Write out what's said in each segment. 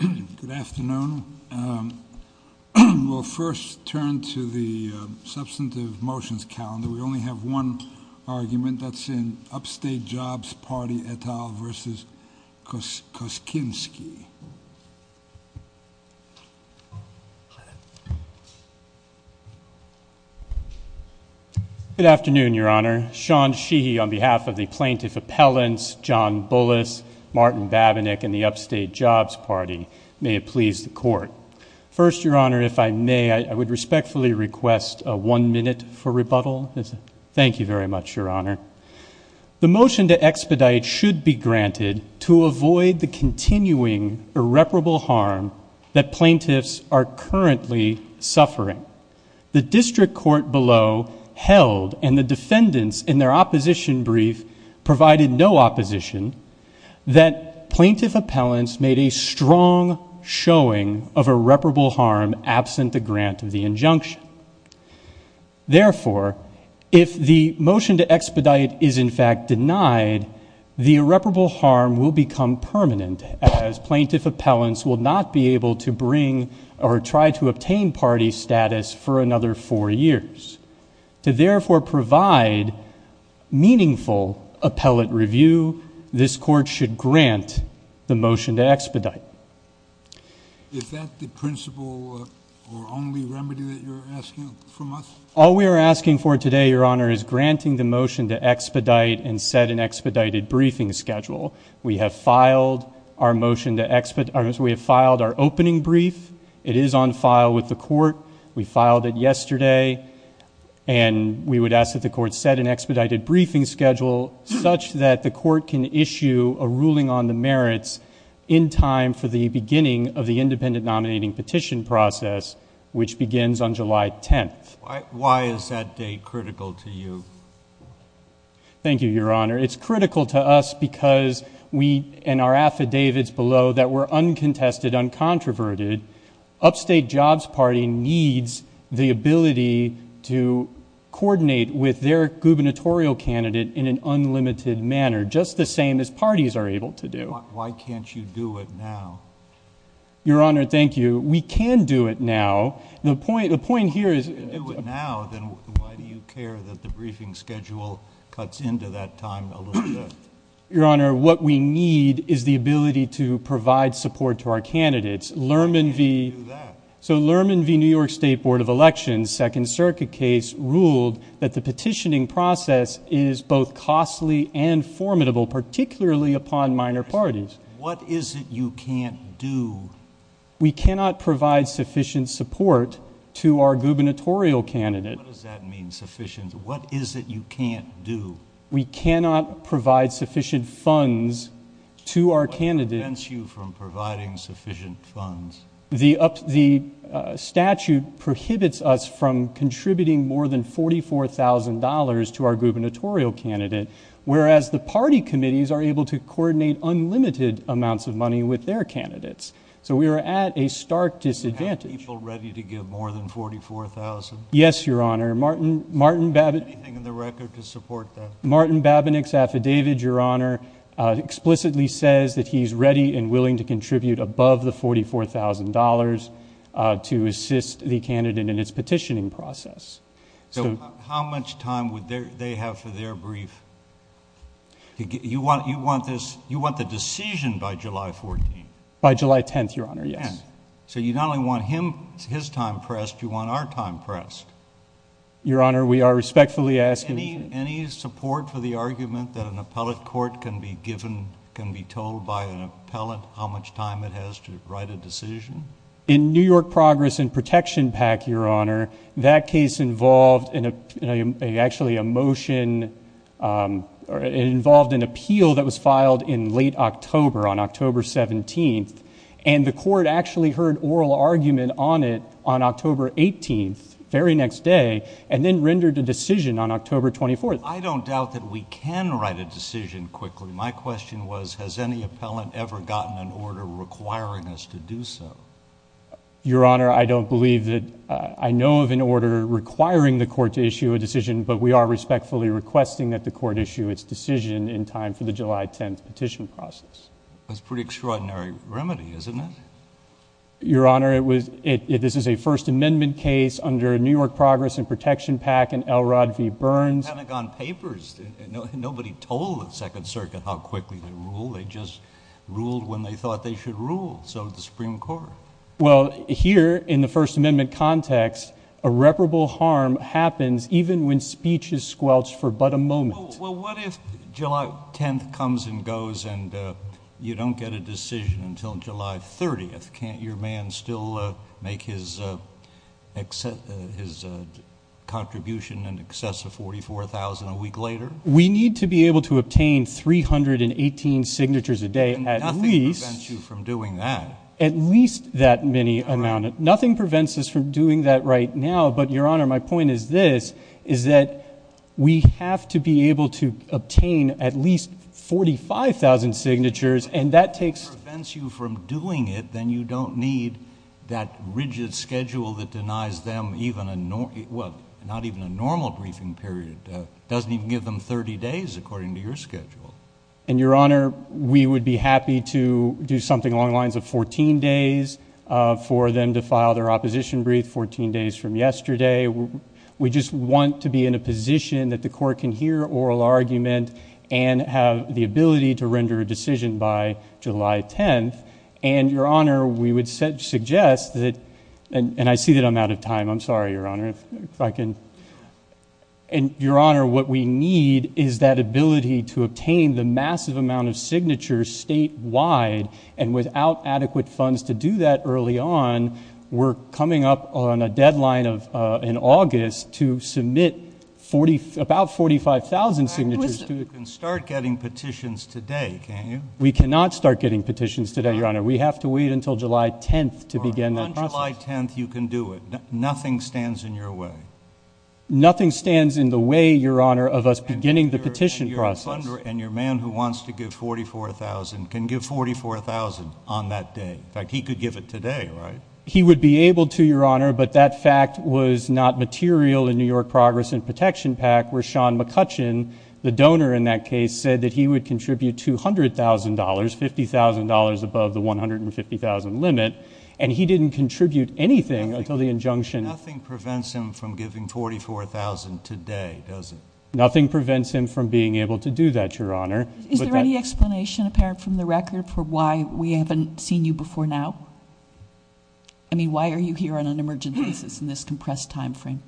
Good afternoon. We'll first turn to the Substantive Motions Calendar. We only have one argument. That's in Upstate Jobs Party et al. v. Koskinski. Good afternoon, Your Honor. Sean Sheehy on behalf of the Plaintiff Appellants, John Bullis, Martin Babinick, and the Upstate Jobs Party. May it please the Court. First, Your Honor, if I may, I would respectfully request one minute for rebuttal. Thank you very much, Your Honor. The motion to expedite should be granted to avoid the continuing irreparable harm that plaintiffs are currently suffering. The District Court below held, and the defendants in their opposition brief provided no opposition, that plaintiff appellants made a strong showing of irreparable harm absent the grant of the injunction. Therefore, if the motion to expedite is in fact denied, the irreparable harm will become permanent as plaintiff appellants will not be able to bring or try to obtain party status for another four years. To therefore provide meaningful appellate review, this Court should grant the motion to expedite. Is that the principle or only remedy that you're asking from us? All we are asking for today, Your Honor, is granting the motion to expedite and set an expedited briefing schedule. We have filed our opening brief. It is on file with the Court. We filed it yesterday, and we would ask that the Court set an expedited briefing schedule such that the Court can issue a ruling on the merits in time for the beginning of the independent nominating petition process, which begins on July 10th. Why is that date critical to you? Thank you, Your Honor. It's critical to us because we, in our affidavits below, that we're uncontested, uncontroverted. Upstate Jobs Party needs the ability to coordinate with their gubernatorial candidate in an unlimited manner, just the same as parties are able to do. Why can't you do it now? Your Honor, thank you. We can do it now. The point here is... Your Honor, what we need is the ability to provide support to our candidates. Lerman v... Why can't you do that? So Lerman v. New York State Board of Elections, Second Circuit case, ruled that the petitioning process is both costly and formidable, particularly upon minor parties. What is it you can't do? We cannot provide sufficient support to our gubernatorial candidate. What does that mean, sufficient? What is it you can't do? We cannot provide sufficient funds to our candidate. What prevents you from providing sufficient funds? The statute prohibits us from contributing more than $44,000 to our gubernatorial candidate, whereas the party committees are able to coordinate unlimited amounts of money with their candidates. So we are at a stark disadvantage. Do you have people ready to give more than $44,000? Yes, Your Honor. Martin Babbitt... Martin Babbitt's affidavit, Your Honor, explicitly says that he's ready and willing to contribute above the $44,000 to assist the candidate in its petitioning process. So how much time would they have for their brief? You want the decision by July 14th? By July 10th, Your Honor, yes. So you not only want his time pressed, you want our time pressed. Your Honor, we are respectfully asking... Is there any support for the argument that an appellate court can be given, can be told by an appellate, how much time it has to write a decision? In New York Progress and Protection PAC, Your Honor, that case involved actually a motion... it involved an appeal that was filed in late October, on October 17th, and the court actually heard oral argument on it on October 18th, very next day, and then rendered a decision on October 24th. I don't doubt that we can write a decision quickly. My question was, has any appellate ever gotten an order requiring us to do so? Your Honor, I don't believe that... I know of an order requiring the court to issue a decision, but we are respectfully requesting that the court issue its decision in time for the July 10th petition process. That's a pretty extraordinary remedy, isn't it? Your Honor, it was... this is a First Amendment case under New York Progress and Protection PAC and L. Rod V. Burns... Pentagon Papers... nobody told the Second Circuit how quickly to rule. They just ruled when they thought they should rule. So did the Supreme Court. Well, here, in the First Amendment context, irreparable harm happens even when speech is squelched for but a moment. Well, what if July 10th comes and goes and you don't get a decision until July 30th? Can't your man still make his contribution in excess of $44,000 a week later? We need to be able to obtain 318 signatures a day at least... Nothing prevents you from doing that. At least that many amount. Nothing prevents us from doing that right now. But, Your Honor, my point is this... is that we have to be able to obtain at least 45,000 signatures and that takes... If nothing prevents you from doing it, then you don't need that rigid schedule that denies them even a... well, not even a normal briefing period. It doesn't even give them 30 days according to your schedule. And, Your Honor, we would be happy to do something along the lines of 14 days... for them to file their opposition brief 14 days from yesterday. We just want to be in a position that the court can hear oral argument and have the ability to render a decision by July 10th. And, Your Honor, we would suggest that... And, I see that I'm out of time. I'm sorry, Your Honor. If I can... And, Your Honor, what we need is that ability to obtain the massive amount of signatures statewide... And, without adequate funds to do that early on, we're coming up on a deadline of... in August, to submit 40... about 45,000 signatures to... I understand. You can start getting petitions today, can't you? We cannot start getting petitions today, Your Honor. We have to wait until July 10th to begin that process. On July 10th, you can do it. Nothing stands in your way. Nothing stands in the way, Your Honor, of us beginning the petition process. And, your funder and your man who wants to give 44,000 can give 44,000 on that day. In fact, he could give it today, right? He would be able to, Your Honor, but that fact was not material in New York Progress and Protection Pact... where Sean McCutcheon, the donor in that case, said that he would contribute $200,000, $50,000 above the $150,000 limit. And, he didn't contribute anything until the injunction... Nothing prevents him from giving 44,000 today, does it? Nothing prevents him from being able to do that, Your Honor. Is there any explanation, apparent from the record, for why we haven't seen you before now? I mean, why are you here on an emergent basis in this compressed time frame?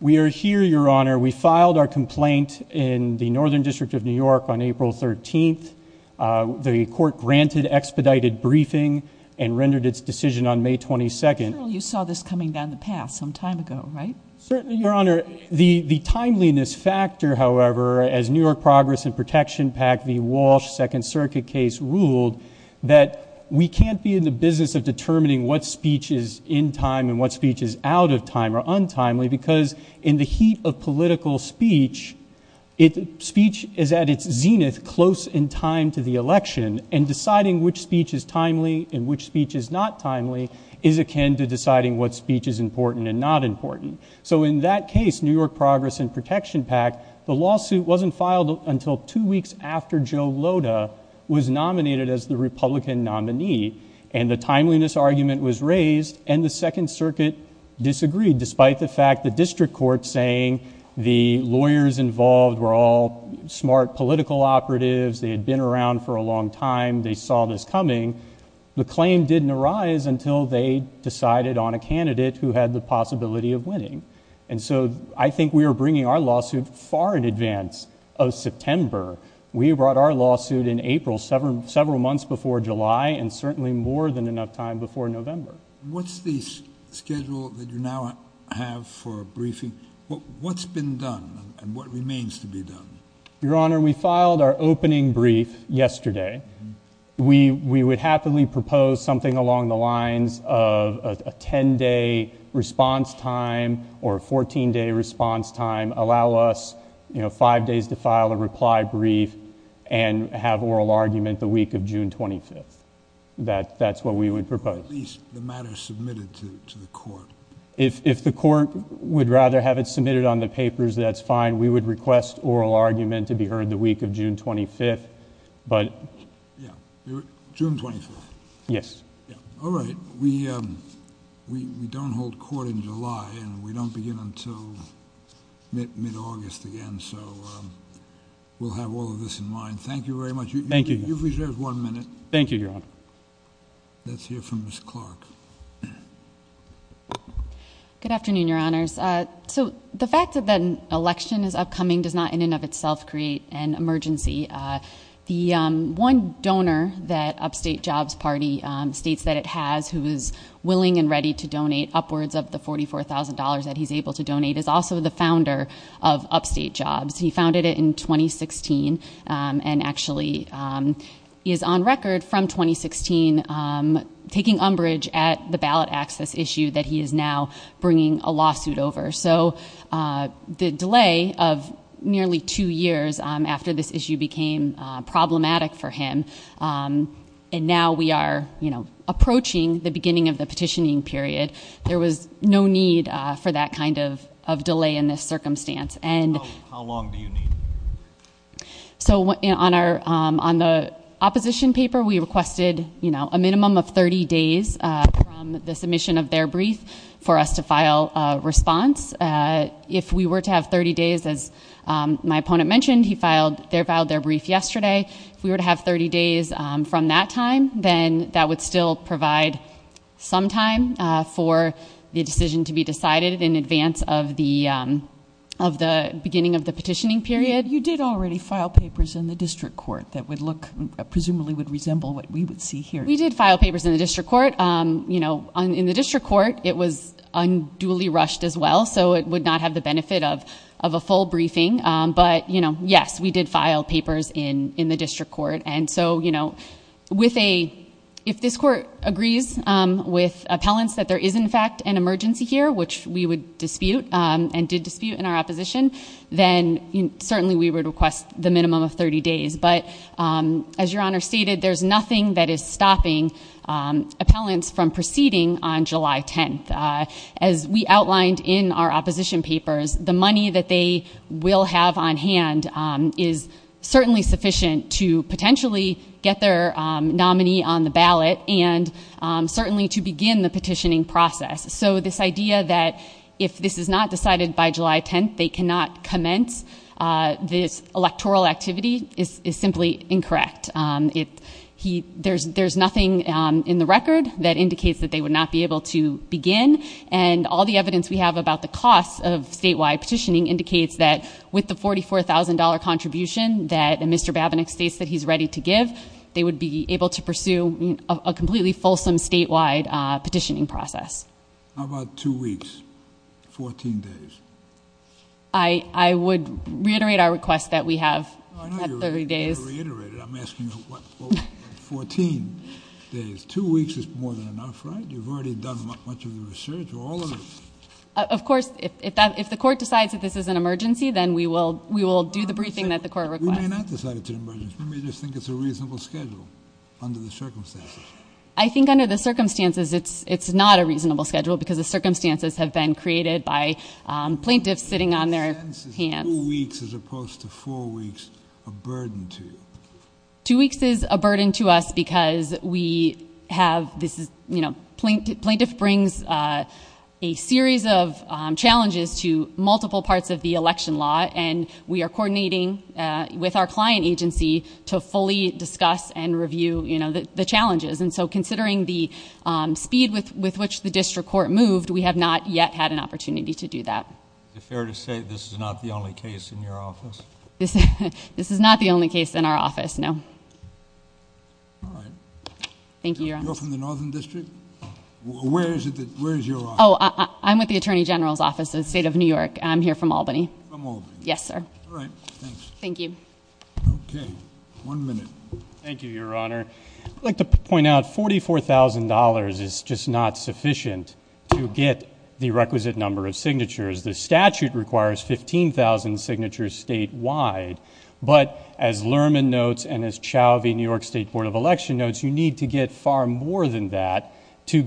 We are here, Your Honor. We filed our complaint in the Northern District of New York on April 13th. The court granted expedited briefing and rendered its decision on May 22nd. You saw this coming down the path, some time ago, right? Certainly, Your Honor. The timeliness factor, however, as New York Progress and Protection Pact, the Walsh Second Circuit case, ruled... that we can't be in the business of determining what speech is in time and what speech is out of time or untimely... because in the heat of political speech, speech is at its zenith, close in time to the election. And, deciding which speech is timely and which speech is not timely... is akin to deciding what speech is important and not important. So, in that case, New York Progress and Protection Pact, the lawsuit wasn't filed until two weeks after Joe Loda... was nominated as the Republican nominee. And, the timeliness argument was raised and the Second Circuit disagreed, despite the fact the District Court saying... the lawyers involved were all smart political operatives. They had been around for a long time. They saw this coming. The claim didn't arise until they decided on a candidate who had the possibility of winning. And so, I think we were bringing our lawsuit far in advance of September. We brought our lawsuit in April, several months before July and certainly more than enough time before November. What's the schedule that you now have for briefing? What's been done and what remains to be done? Your Honor, we filed our opening brief yesterday. We would happily propose something along the lines of a ten-day response time or a fourteen-day response time. Allow us, you know, five days to file a reply brief and have oral argument the week of June 25th. That's what we would propose. At least the matter submitted to the court. If the court would rather have it submitted on the papers, that's fine. We would request oral argument to be heard the week of June 25th. June 25th? Yes. All right. We don't hold court in July and we don't begin until mid-August again. So, we'll have all of this in mind. Thank you very much. You've reserved one minute. Thank you, Your Honor. Let's hear from Ms. Clark. Good afternoon, Your Honors. So, the fact that an election is upcoming does not in and of itself create an emergency. The one donor that Upstate Jobs Party states that it has who is willing and ready to donate upwards of the $44,000 that he's able to donate is also the founder of Upstate Jobs. He founded it in 2016 and actually is on record from 2016 taking umbrage at the ballot access issue that he is now bringing a lawsuit over. So, the delay of nearly two years after this issue became problematic for him and now we are approaching the beginning of the petitioning period, there was no need for that kind of delay in this circumstance. How long do you need? So, on the opposition paper, we requested a minimum of 30 days from the submission of their brief for us to file a response. If we were to have 30 days, as my opponent mentioned, he filed their brief yesterday. If we were to have 30 days from that time, then that would still provide some time for the decision to be decided in advance of the beginning of the petitioning period. You did already file papers in the district court that would look, presumably would resemble what we would see here. We did file papers in the district court. In the district court, it was unduly rushed as well, so it would not have the benefit of a full briefing. But, you know, yes, we did file papers in the district court. And so, you know, if this court agrees with appellants that there is in fact an emergency here, which we would dispute and did dispute in our opposition, then certainly we would request the minimum of 30 days. But, as Your Honor stated, there's nothing that is stopping appellants from proceeding on July 10th. As we outlined in our opposition papers, the money that they will have on hand is certainly sufficient to potentially get their nominee on the ballot and certainly to begin the petitioning process. So this idea that if this is not decided by July 10th, they cannot commence this electoral activity is simply incorrect. There's nothing in the record that indicates that they would not be able to begin. And all the evidence we have about the cost of statewide petitioning indicates that with the $44,000 contribution that Mr. Babinec states that he's ready to give, they would be able to pursue a completely fulsome statewide petitioning process. How about two weeks, 14 days? I would reiterate our request that we have 30 days. Two weeks is more than enough, right? You've already done much of the research. Of course, if the court decides that this is an emergency, then we will do the briefing that the court requests. We may not decide it's an emergency. We may just think it's a reasonable schedule under the circumstances. I think under the circumstances, it's not a reasonable schedule because the circumstances have been created by plaintiffs sitting on their hands. Two weeks as opposed to four weeks are a burden to you? Two weeks is a burden to us because we have this, you know, plaintiff brings a series of challenges to multiple parts of the election law. And we are coordinating with our client agency to fully discuss and review, you know, the challenges. And so considering the speed with which the district court moved, we have not yet had an opportunity to do that. Is it fair to say this is not the only case in your office? This is not the only case in our office, no. All right. Thank you, Your Honor. You're from the Northern District? Where is your office? Oh, I'm with the Attorney General's Office of the State of New York. I'm here from Albany. From Albany. Yes, sir. All right, thanks. Thank you. Okay, one minute. Thank you, Your Honor. I'd like to point out $44,000 is just not sufficient to get the requisite number of signatures. The statute requires 15,000 signatures statewide, but as Lerman notes and as Chauvey, New York State Board of Election notes, you need to get far more than that to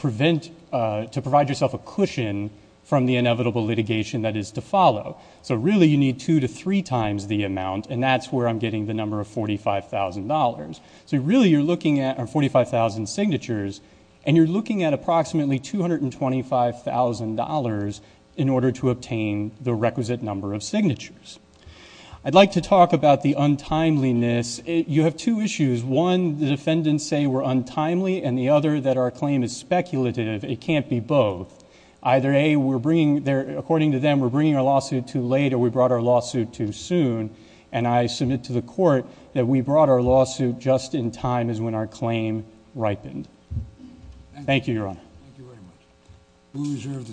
provide yourself a cushion from the inevitable litigation that is to follow. So really you need two to three times the amount, and that's where I'm getting the number of $45,000. So really you're looking at 45,000 signatures, and you're looking at approximately $225,000 in order to obtain the requisite number of signatures. I'd like to talk about the untimeliness. You have two issues. One, the defendants say we're untimely, and the other that our claim is speculative. It can't be both. Either A, according to them, we're bringing our lawsuit too late or we brought our lawsuit too soon, and I submit to the court that we brought our lawsuit just in time as when our claim ripened. Thank you, Your Honor. Thank you very much. We reserve the decision.